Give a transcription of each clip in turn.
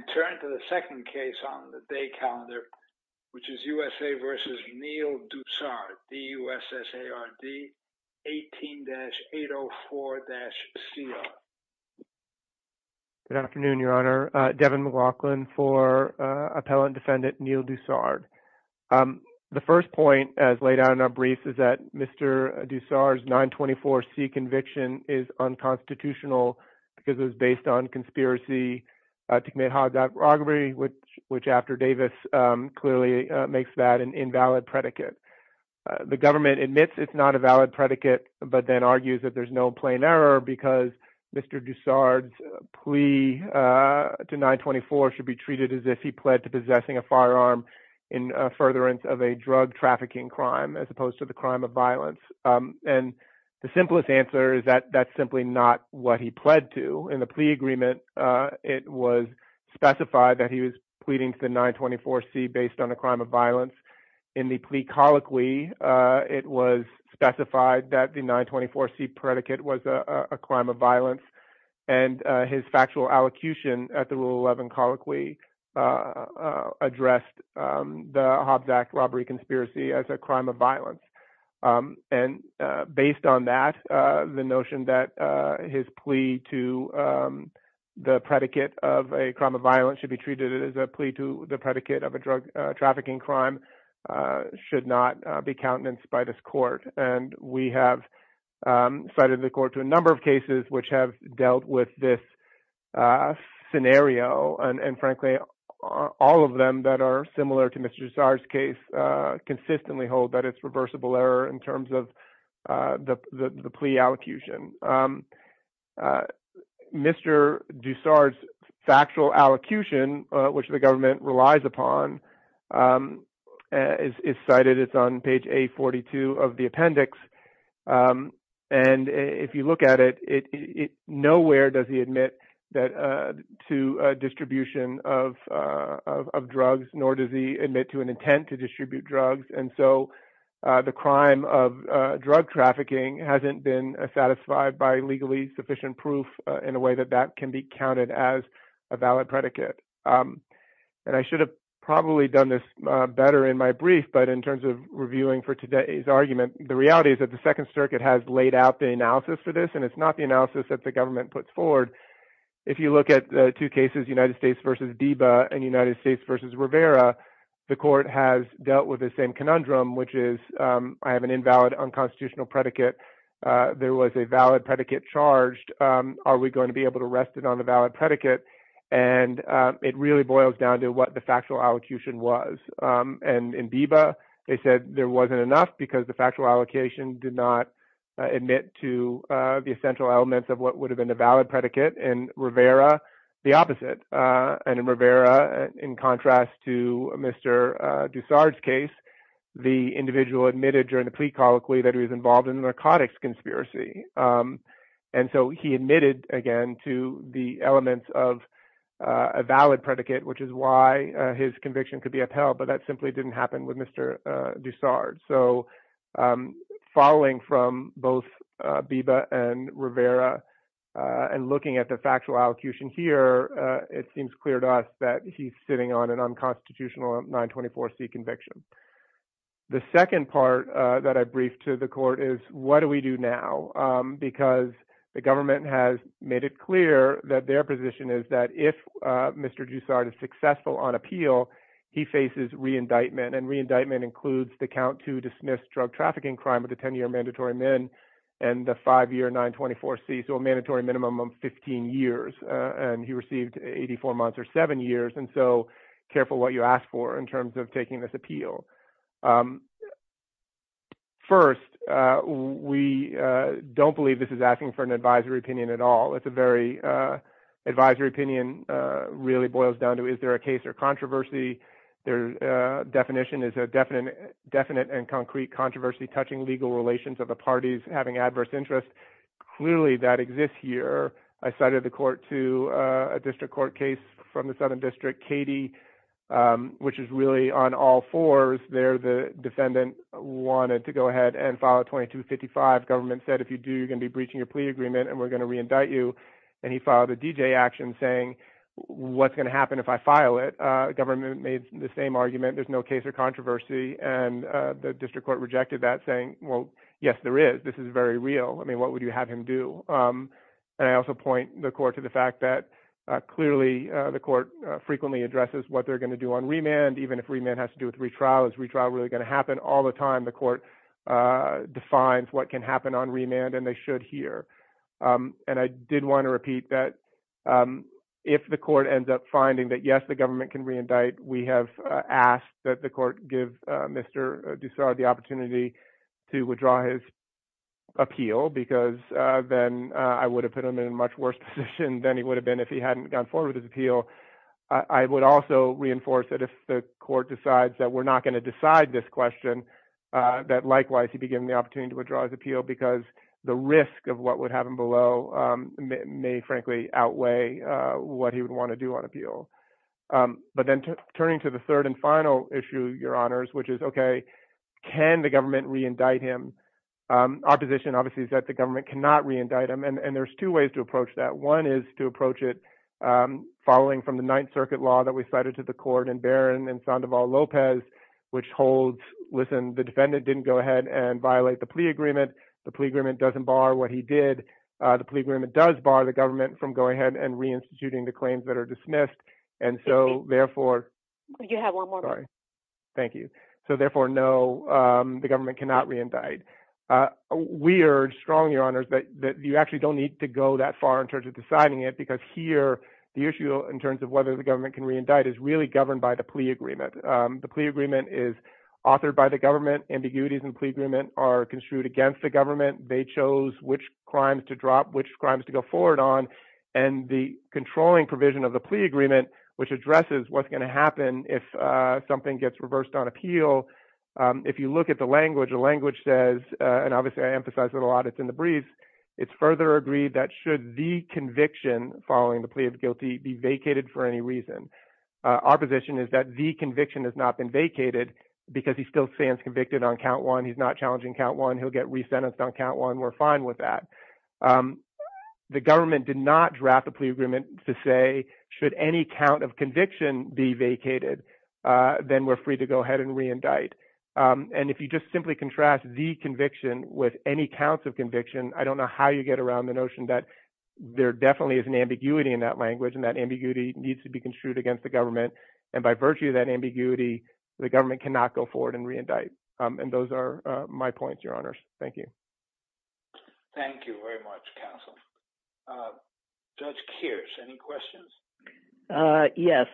and turn to the second case on the day calendar, which is U.S.A. v. Neil Dussard, D-U-S-S-A-R-D-18-804-C-R. Good afternoon, Your Honor. Devin McLaughlin for Appellant Defendant Neil Dussard. The first point, as laid out in our brief, is that Mr. Dussard's 924C conviction is unconstitutional because it was based on conspiracy to commit hodgepodge robbery, which, after Davis, clearly makes that an invalid predicate. The government admits it's not a valid predicate, but then argues that there's no plain error because Mr. Dussard's plea to 924 should be treated as if he pled to possessing a firearm in furtherance of a drug trafficking crime, as opposed to the crime of violence. The simplest answer is that that's simply not what he pled to. In the plea agreement, it was specified that he was pleading to the 924C based on a crime of violence. In the plea colloquy, it was specified that the 924C predicate was a crime of violence. His factual allocution at the Rule 11 colloquy addressed the hodgepodge robbery conspiracy as a crime of violence. Based on that, the notion that his plea to the predicate of a crime of violence should be treated as a plea to the predicate of a drug trafficking crime should not be countenanced by this court. We have cited the court to a number of cases which have dealt with this scenario. Frankly, all of them that are similar to Mr. Dussard's case consistently hold that it's reversible error in terms of the plea allocution. Mr. Dussard's factual allocution, which the government relies upon, is cited. It's on page A42 of the appendix. If you look at it, nowhere does he admit to distribution of drugs, nor does he admit to an intent to distribute drugs. The crime of drug trafficking hasn't been satisfied by legally sufficient proof in a way that that can be counted as a valid predicate. I should have probably done this better in my brief, but in terms of reviewing for today's argument, the reality is that the Second Circuit has laid out the analysis for this, and it's not the analysis that the government puts forward. If you look at the two cases, United States v. DEBA and United States v. Rivera, the court has dealt with the same conundrum, which is I have an invalid unconstitutional predicate. There was a valid predicate charged. Are we going to be able to rest it on the valid predicate? It really boils down to what the factual allocation was. In DEBA, they said there wasn't enough because the factual allocation did not admit to the essential elements of what would have been a valid predicate. In Rivera, the opposite. In Rivera, in contrast to Mr. Dussard's case, the individual admitted during the plea colloquy that he was involved in a narcotics conspiracy. He admitted, again, to the elements of a valid predicate, which is why his conviction could be upheld, but that simply didn't happen with Mr. Dussard. Following from both DEBA and Rivera and looking at the factual allocation here, it seems clear to us that he's sitting on an unconstitutional 924C conviction. The second part that I briefed to the court is what do we do now? Because the government has made it clear that their position is that if Mr. Dussard is successful on appeal, he faces reindictment. Reindictment includes the count to dismiss drug trafficking crime with a 10-year mandatory min and the five-year 924C, so a mandatory minimum of 15 years. He received 84 months or seven years, and so careful what you ask for in terms of taking this appeal. First, we don't believe this is asking for an advisory opinion at all. Advisory opinion really boils down to is there a case or controversy. Their definition is a definite and concrete controversy touching legal relations of the parties having adverse interests. Clearly, that exists here. I cited the court to a district court case from the Southern District, Katie, which is really on all fours. There, the defendant wanted to go ahead and file a 2255. Government said, if you do, you're going to be breaching your plea agreement, and we're going to reindict you. And he filed a DJ action saying, what's going to happen if I file it? Government made the same argument. There's no case or controversy, and the district court rejected that saying, well, yes, there is. This is very real. I mean, what would you have him do? And I also point the court to the fact that, clearly, the court frequently addresses what they're going to do on remand, even if remand has to do with retrial. Is retrial really going to happen? All the time, the court defines what can happen on remand, and they should here. And I did want to repeat that if the court ends up finding that, yes, the government can reindict, we have asked that the court give Mr. Dussard the opportunity to withdraw his appeal, because then I would have put him in a much worse position than he would have been if he hadn't gone forward with his appeal. I would also reinforce that if the court decides that we're not going to decide this question, that likewise he'd be given the opportunity to withdraw his appeal because the risk of what would happen below may, frankly, outweigh what he would want to do on appeal. But then turning to the third and final issue, Your Honors, which is, okay, can the government reindict him? Opposition, obviously, is that the government cannot reindict him. And there's two ways to approach that. One is to approach it following from the Ninth Circuit law that we cited to the court in Barron and Sandoval-Lopez, which holds, listen, the defendant didn't go ahead and violate the plea agreement. The plea agreement doesn't bar what he did. The plea agreement does bar the government from going ahead and reinstituting the claims that are dismissed. And so, therefore- You have one more minute. Thank you. So, therefore, no, the government cannot reindict. We are strong, Your Honors, that you actually don't need to go that far in terms of deciding it, because here the issue in terms of whether the government can reindict is really governed by the plea agreement. The plea agreement is authored by the government. Ambiguities in the plea agreement are construed against the government. They chose which crimes to drop, which crimes to go forward on. And the controlling provision of the plea agreement, which addresses what's going to happen if something gets reversed on appeal, if you look at the language, the language says, and obviously I emphasize it a lot, it's in the briefs, it's further agreed that should the conviction following the plea of guilty be vacated for any reason. Our position is that the conviction has not been vacated because he still stands convicted on count one. He's not challenging count one. He'll get resentenced on count one. We're fine with that. The government did not draft the plea agreement to say should any count of conviction be vacated, then we're free to go ahead and reindict. And if you just simply contrast the conviction with any counts of conviction, I don't know how you get around the notion that there definitely is an ambiguity in that language, and that ambiguity needs to be construed against the government. And by virtue of that ambiguity, the government cannot go forward and reindict. And those are my points, Your Honors. Thank you. Thank you very much, counsel. Judge Kears, any questions? Yes.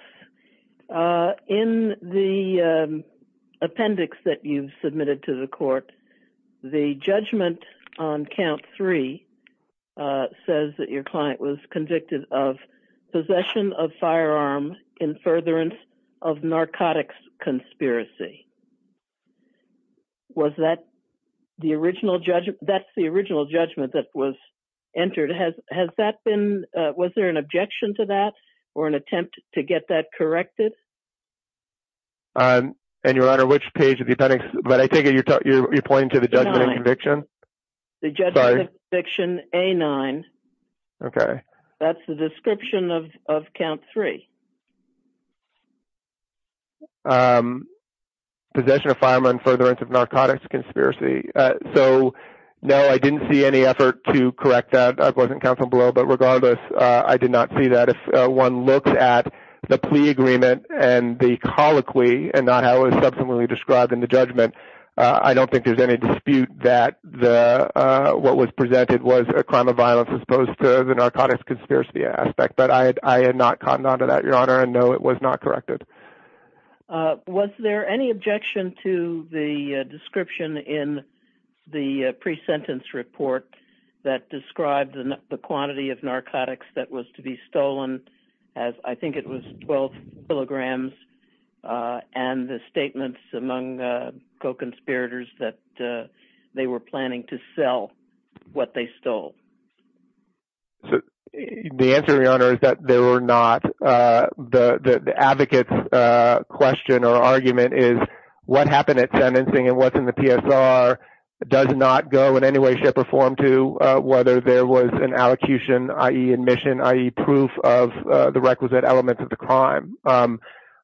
In the appendix that you've submitted to the court, the judgment on count three says that your client was convicted of Was that the original judgment? That's the original judgment that was entered. Has that been ‑‑ was there an objection to that or an attempt to get that corrected? And, Your Honor, which page of the appendix? But I think you're pointing to the judgment of conviction. The judgment of conviction A9. Okay. That's the description of count three. Possession of firearm and furtherance of narcotics conspiracy. So, no, I didn't see any effort to correct that. I wasn't counsel below. But regardless, I did not see that. If one looks at the plea agreement and the colloquy and not how it was subsequently described in the judgment, I don't think there's any dispute that what was presented was a crime of violence as opposed to the narcotics conspiracy aspect. But I had not caught on to that, Your Honor. And, no, it was not corrected. Was there any objection to the description in the presentence report that described the quantity of narcotics that was to be stolen? I think it was 12 kilograms. And the statements among the co‑conspirators that they were planning to sell what they stole. The answer, Your Honor, is that there were not. The advocate's question or argument is what happened at sentencing and what's in the PSR does not go in any way, shape, or form to whether there was an allocution, i.e., admission, i.e., proof of the requisite elements of the crime.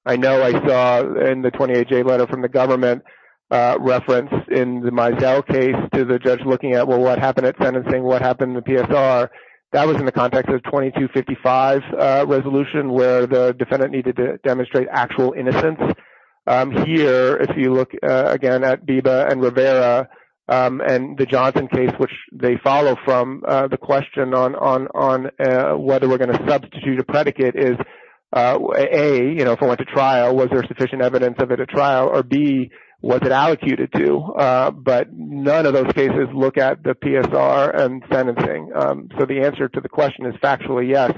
I know I saw in the 28J letter from the government reference in the Meisel case to the judge looking at, well, what happened at sentencing? What happened in the PSR? That was in the context of 2255 resolution where the defendant needed to demonstrate actual innocence. Here, if you look, again, at Biba and Rivera and the Johnson case, which they follow from, the question on whether we're going to substitute a predicate is, A, if it went to trial, was there sufficient evidence of it at trial? Or, B, was it allocated to? None of those cases look at the PSR and sentencing. The answer to the question is factually, yes,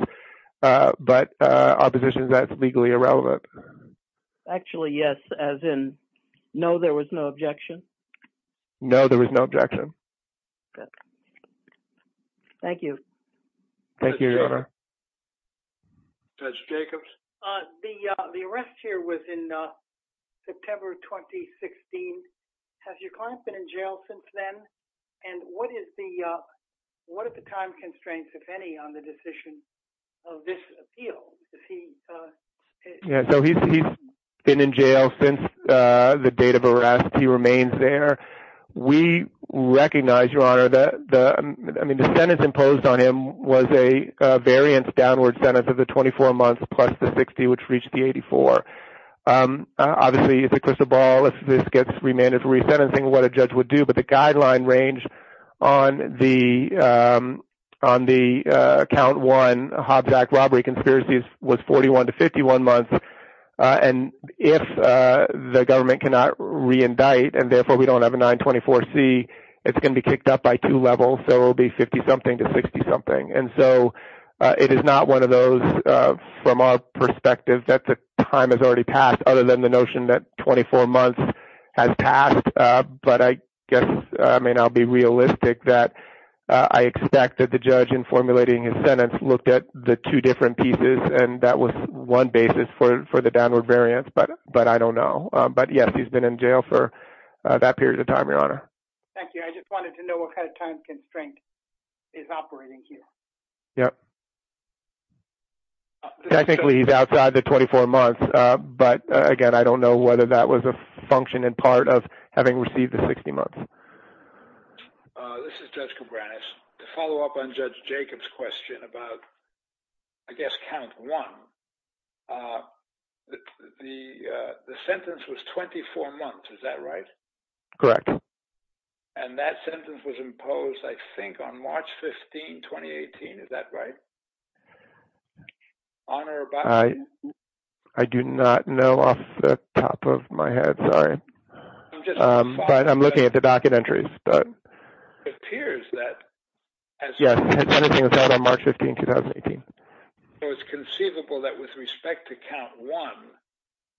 but opposition is that it's legally irrelevant. Actually, yes, as in no, there was no objection? No, there was no objection. Good. Thank you. Thank you, Your Honor. Judge Jacobs? The arrest here was in September 2016. Has your client been in jail since then? And what is the time constraints, if any, on the decision of this appeal? Yeah, so he's been in jail since the date of arrest. He remains there. We recognize, Your Honor, the sentence imposed on him was a variance-downward sentence of the 24 months plus the 60, which reached the 84. Obviously, it's a crystal ball. If this gets remanded for resentencing, what a judge would do. But the guideline range on the Count 1 Hobsack robbery conspiracy was 41 to 51 months. And if the government cannot reindict and, therefore, we don't have a 924C, it's going to be kicked up by two levels. So it will be 50-something to 60-something. And so it is not one of those, from our perspective, that the time has already passed, other than the notion that 24 months has passed. But I guess, I mean, I'll be realistic that I expect that the judge, in formulating his sentence, looked at the two different pieces, and that was one basis for the downward variance. But I don't know. But, yes, he's been in jail for that period of time, Your Honor. Thank you. I just wanted to know what kind of time constraint is operating here. Technically, he's outside the 24 months. But, again, I don't know whether that was a function and part of having received the 60 months. This is Judge Koubranis. To follow up on Judge Jacobs' question about, I guess, Count 1, the sentence was 24 months. Is that right? Correct. And that sentence was imposed, I think, on March 15, 2018. Is that right? Honor, about that? I do not know off the top of my head. Sorry. But I'm looking at the docket entries. It appears that. Yes, everything was held on March 15, 2018. So it's conceivable that with respect to Count 1,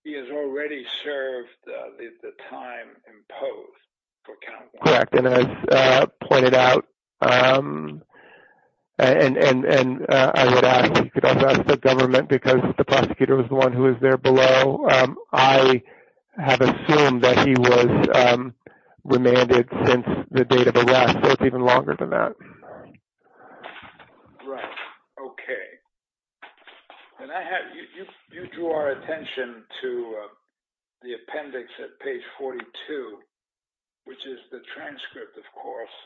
he has already served the time imposed for Count 1. Correct. And as pointed out, and you could also ask the government because the prosecutor was the one who was there below, I have assumed that he was remanded since the date of arrest. So it's even longer than that. Right. Okay. You drew our attention to the appendix at page 42, which is the transcript, of course,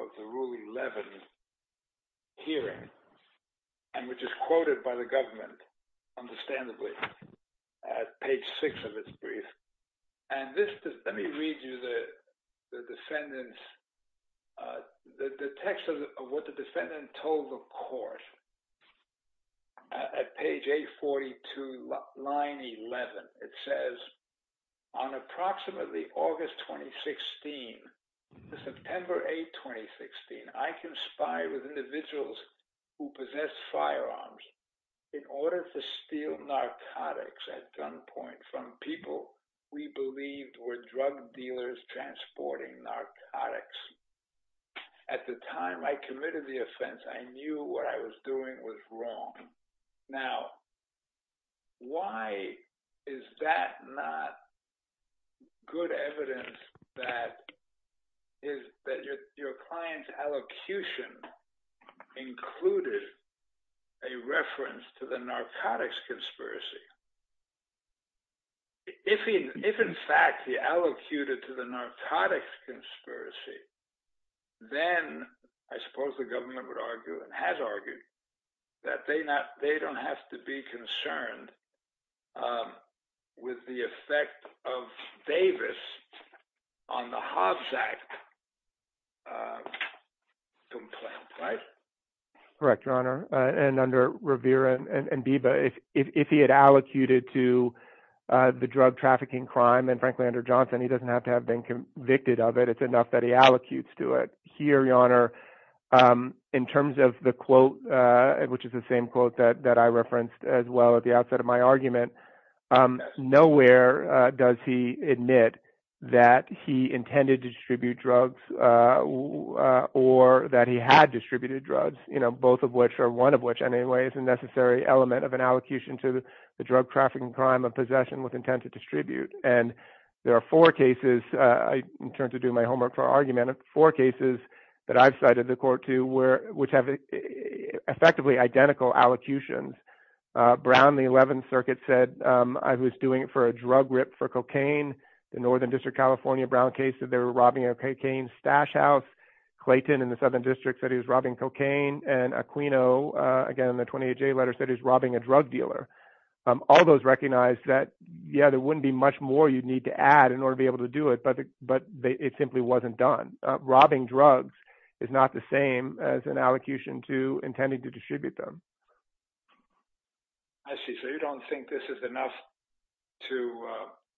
of the Rule 11 hearing, and which is quoted by the government, understandably, at page 6 of its brief. And let me read you the defendant's – the text of what the defendant told the court. At page 842, line 11, it says, On approximately August 2016 to September 8, 2016, I conspired with individuals who possessed firearms in order to steal narcotics at gunpoint from people we believed were drug dealers transporting narcotics. At the time I committed the offense, I knew what I was doing was wrong. Now, why is that not good evidence that your client's allocution included a reference to the narcotics conspiracy? If, in fact, he allocated to the narcotics conspiracy, then I suppose the government would argue and has argued that they don't have to be concerned with the effect of Davis on the Hobbs Act complaint, right? And under Revere and Biba, if he had allocated to the drug trafficking crime, and frankly, under Johnson, he doesn't have to have been convicted of it. It's enough that he allocutes to it. Here, Your Honor, in terms of the quote, which is the same quote that I referenced as well at the outset of my argument, nowhere does he admit that he intended to distribute drugs or that he had distributed drugs, both of which are one of which, anyway, is a necessary element of an allocation to the drug trafficking crime of possession with intent to distribute. And there are four cases, in turn, to do my homework for argument, four cases that I've cited the court to which have effectively identical allocutions. Brown, the 11th Circuit, said I was doing it for a drug rip for cocaine. The Northern District, California, Brown case that they were robbing a cocaine stash house. Clayton, in the Southern District, said he was robbing cocaine. And Aquino, again, in the 28-J letter, said he was robbing a drug dealer. All those recognize that, yeah, there wouldn't be much more you'd need to add in order to be able to do it, but it simply wasn't done. Robbing drugs is not the same as an allocation to intending to distribute them. I see. So you don't think this is enough to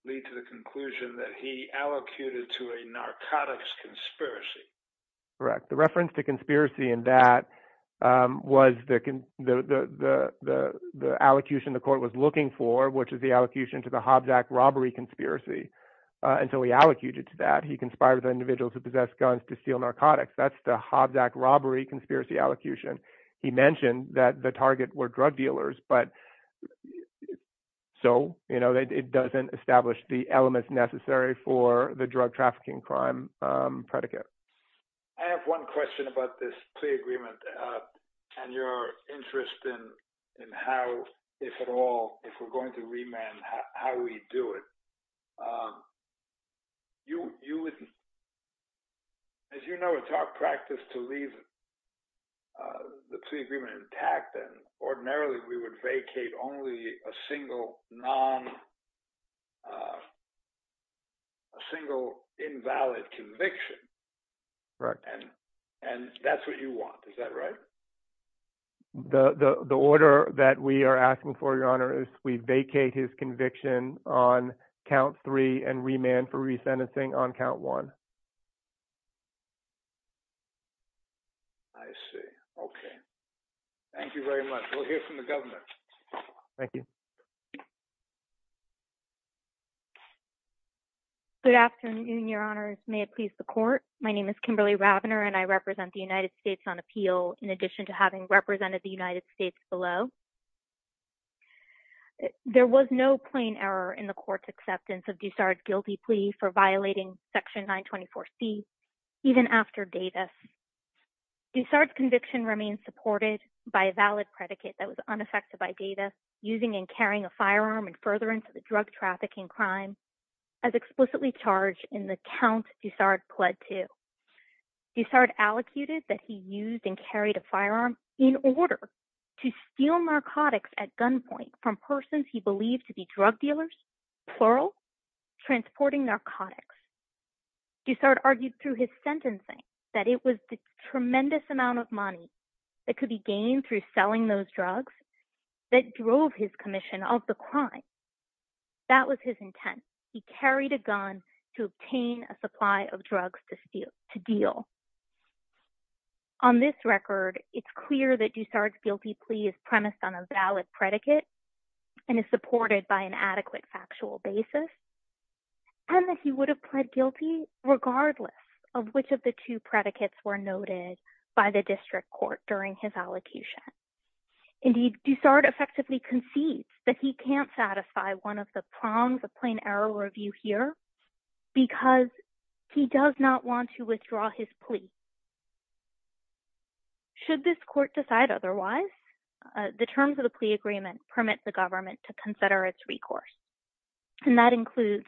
lead to the conclusion that he allocated to a narcotics conspiracy? Correct. The reference to conspiracy in that was the allocation the court was looking for, which is the allocation to the Hobzack robbery conspiracy. And so he allocated to that. He conspired with an individual to possess guns to steal narcotics. That's the Hobzack robbery conspiracy allocation. He mentioned that the target were drug dealers, but so it doesn't establish the elements necessary for the drug trafficking crime predicate. I have one question about this plea agreement and your interest in how, if at all, if we're going to remand, how we do it. You wouldn't. As you know, it's our practice to leave the plea agreement intact. And ordinarily we would vacate only a single non. A single invalid conviction. And that's what you want. Is that right? The order that we are asking for, Your Honor, is we vacate his conviction on count three and remand for resentencing on count one. I see. OK. Thank you very much. We'll hear from the government. Thank you. Good afternoon, Your Honors. May it please the court. My name is Kimberly Ravner, and I represent the United States on appeal. In addition to having represented the United States below. There was no plain error in the court's acceptance of Dussard's guilty plea for violating Section 924C even after Davis. Dussard's conviction remains supported by a valid predicate that was unaffected by Davis using and carrying a firearm and further into the drug trafficking crime as explicitly charged in the count Dussard pled to. Dussard allocated that he used and carried a firearm in order to steal narcotics at gunpoint from persons he believed to be drug dealers, plural, transporting narcotics. Dussard argued through his sentencing that it was the tremendous amount of money that could be gained through selling those drugs that drove his commission of the crime. That was his intent. He carried a gun to obtain a supply of drugs to deal. On this record, it's clear that Dussard's guilty plea is premised on a valid predicate and is supported by an adequate factual basis. And that he would have pled guilty regardless of which of the two predicates were noted by the district court during his allocution. Indeed, Dussard effectively concedes that he can't satisfy one of the prongs of plain error review here because he does not want to withdraw his plea. Should this court decide otherwise, the terms of the plea agreement permit the government to consider its recourse. And that includes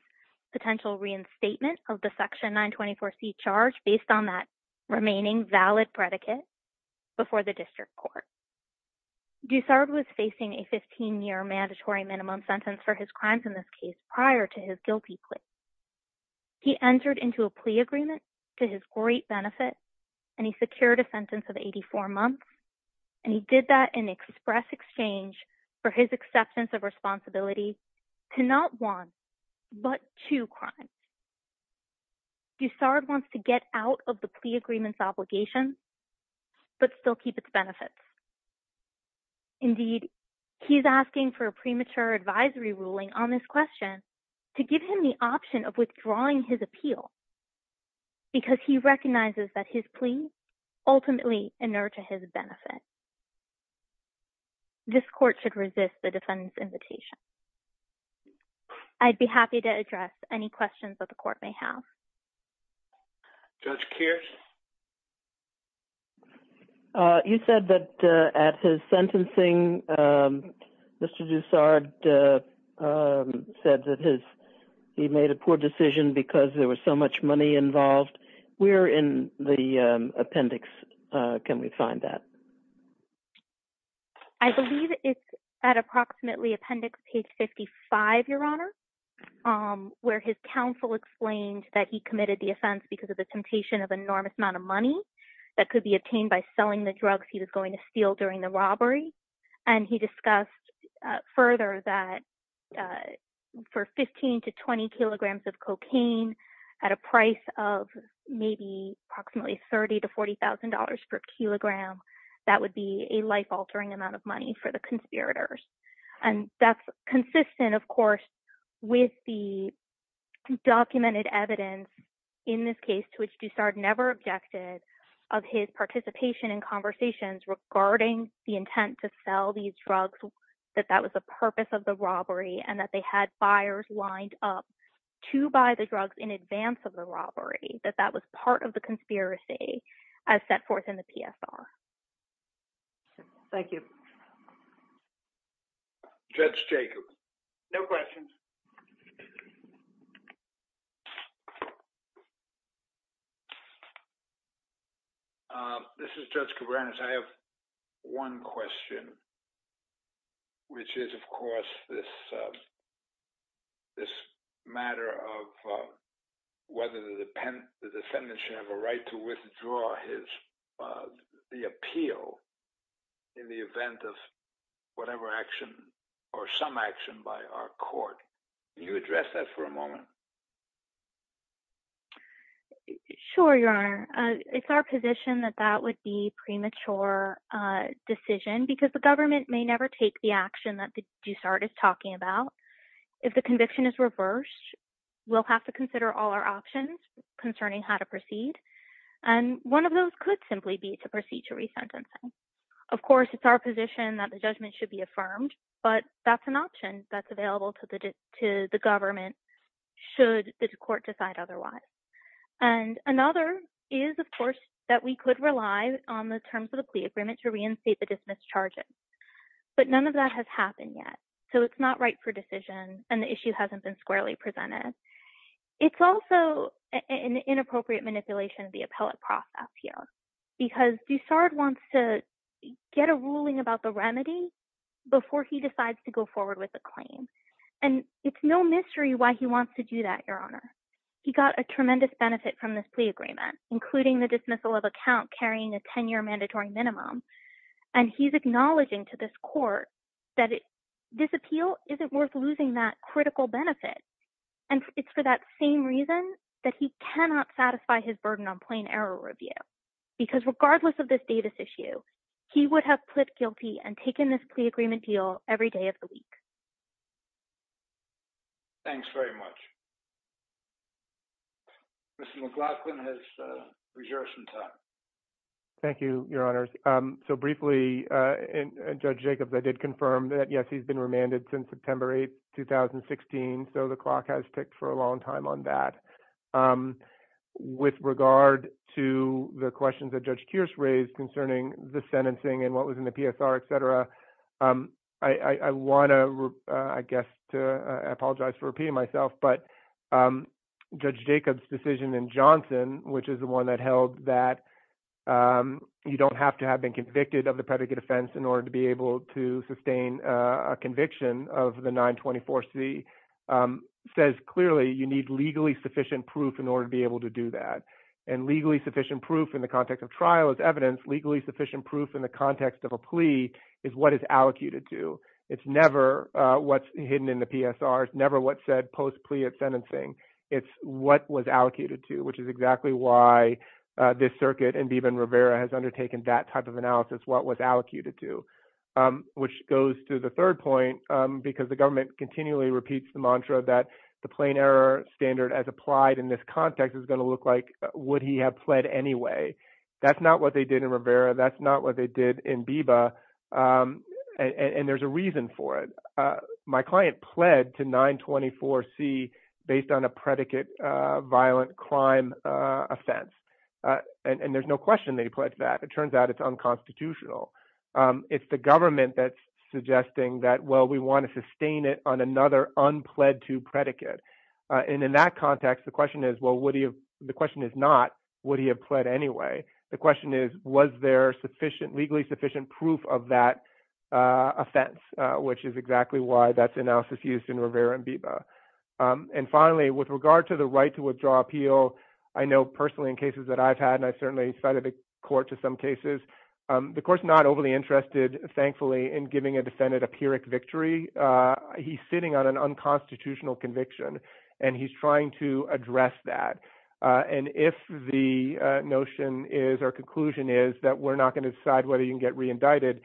potential reinstatement of the Section 924C charge based on that remaining valid predicate before the district court. Dussard was facing a 15-year mandatory minimum sentence for his crimes in this case prior to his guilty plea. He entered into a plea agreement to his great benefit, and he secured a sentence of 84 months. And he did that in express exchange for his acceptance of responsibility to not one, but two crimes. Dussard wants to get out of the plea agreement's obligation, but still keep its benefits. Indeed, he's asking for a premature advisory ruling on this question to give him the option of withdrawing his appeal, because he recognizes that his plea ultimately inert to his benefit. This court should resist the defendant's invitation. I'd be happy to address any questions that the court may have. Judge Kears? You said that at his sentencing, Mr. Dussard said that he made a poor decision because there was so much money involved. Where in the appendix can we find that? I believe it's at approximately appendix page 55, Your Honor, where his counsel explained that he committed the offense because of the temptation of an enormous amount of money that could be obtained by selling the drugs he was going to steal during the robbery. And he discussed further that for 15 to 20 kilograms of cocaine at a price of maybe approximately $30,000 to $40,000 per kilogram, that would be a life-altering amount of money for the conspirators. And that's consistent, of course, with the documented evidence in this case to which Dussard never objected of his participation in conversations regarding the intent to sell these drugs, that that was the purpose of the robbery, and that they had buyers lined up to buy the drugs in advance of the robbery, that that was part of the conspiracy as set forth in the PSR. Thank you. Judge Jacobs? No questions. This is Judge Cabranes. I have one question, which is, of course, this matter of whether the defendant should have a right to withdraw the appeal in the event of whatever action or some action by our court. Can you address that for a moment? Sure, Your Honor. It's our position that that would be premature decision because the government may never take the action that Dussard is talking about. If the conviction is reversed, we'll have to consider all our options concerning how to proceed. And one of those could simply be to proceed to resentencing. Of course, it's our position that the judgment should be affirmed, but that's an option that's available to the government should the court decide otherwise. And another is, of course, that we could rely on the terms of the plea agreement to reinstate the dismissed charges. But none of that has happened yet, so it's not right for decision, and the issue hasn't been squarely presented. It's also an inappropriate manipulation of the appellate process here because Dussard wants to get a ruling about the remedy before he decides to go forward with the claim. And it's no mystery why he wants to do that, Your Honor. He got a tremendous benefit from this plea agreement, including the dismissal of a count carrying a 10-year mandatory minimum. And he's acknowledging to this court that this appeal isn't worth losing that critical benefit. And it's for that same reason that he cannot satisfy his burden on plain error review because regardless of this Davis issue, he would have pled guilty and taken this plea agreement deal every day of the week. Thanks very much. Mr. McLaughlin has reserved some time. Thank you, Your Honors. So briefly, Judge Jacobs, I did confirm that, yes, he's been remanded since September 8, 2016, so the clock has ticked for a long time on that. With regard to the questions that Judge Kearse raised concerning the sentencing and what was in the PSR, et cetera, I want to, I guess, I apologize for repeating myself, but Judge Jacobs' decision in Johnson, which is the one that held that you don't have to have been convicted of the predicate offense in order to be able to sustain a conviction of the 924C, says clearly you need legally sufficient proof in order to be able to do that. And legally sufficient proof in the context of trial is evidence. Legally sufficient proof in the context of a plea is what is allocated to. It's never what's hidden in the PSR. It's never what's said post-plea at sentencing. It's what was allocated to, which is exactly why this circuit and even Rivera has undertaken that type of analysis, what was allocated to, which goes to the third point, because the government continually repeats the mantra that the plain error standard as applied in this context is going to look like, would he have pled anyway? That's not what they did in Rivera. That's not what they did in Biba. And there's a reason for it. My client pled to 924C based on a predicate violent crime offense. And there's no question that he pled to that. It turns out it's unconstitutional. It's the government that's suggesting that, well, we want to sustain it on another unpled to predicate. And in that context, the question is, well, the question is not, would he have pled anyway? The question is, was there sufficient, legally sufficient proof of that offense, which is exactly why that's analysis used in Rivera and Biba. And finally, with regard to the right to withdraw appeal, I know personally in cases that I've had, and I've certainly cited the court to some cases, the court's not overly interested, thankfully, in giving a defendant a pyrrhic victory. He's sitting on an unconstitutional conviction, and he's trying to address that. And if the notion is or conclusion is that we're not going to decide whether you can get reindicted,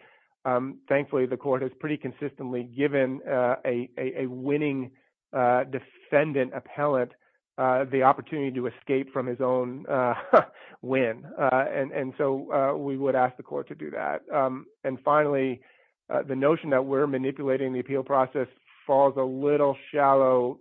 thankfully, the court has pretty consistently given a winning defendant appellant the opportunity to escape from his own win. And so we would ask the court to do that. And finally, the notion that we're manipulating the appeal process falls a little shallow,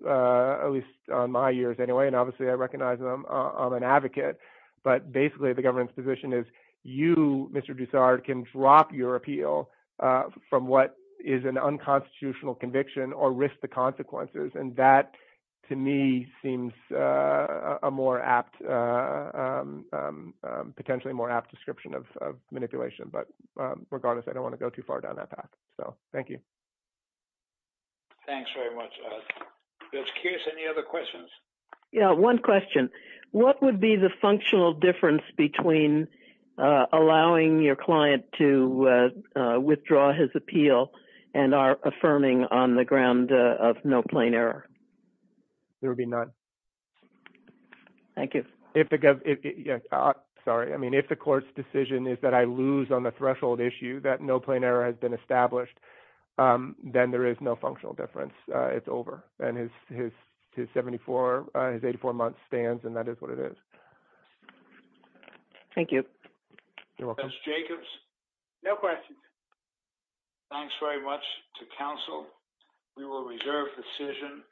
at least on my years anyway. And obviously, I recognize I'm an advocate. But basically, the government's position is you, Mr. DuSard, can drop your appeal from what is an unconstitutional conviction or risk the consequences. And that, to me, seems a more apt, potentially more apt description of manipulation. But regardless, I don't want to go too far down that path. So thank you. Thanks very much. Judge Kearse, any other questions? Yeah, one question. What would be the functional difference between allowing your client to withdraw his appeal and are affirming on the ground of no plain error? There would be none. Thank you. Sorry. I mean, if the court's decision is that I lose on the threshold issue, that no plain error has been established, then there is no functional difference. It's over. And his 74, his 84 months stands, and that is what it is. Thank you. Judge Jacobs? No questions. Thanks very much to counsel. We will reserve decision.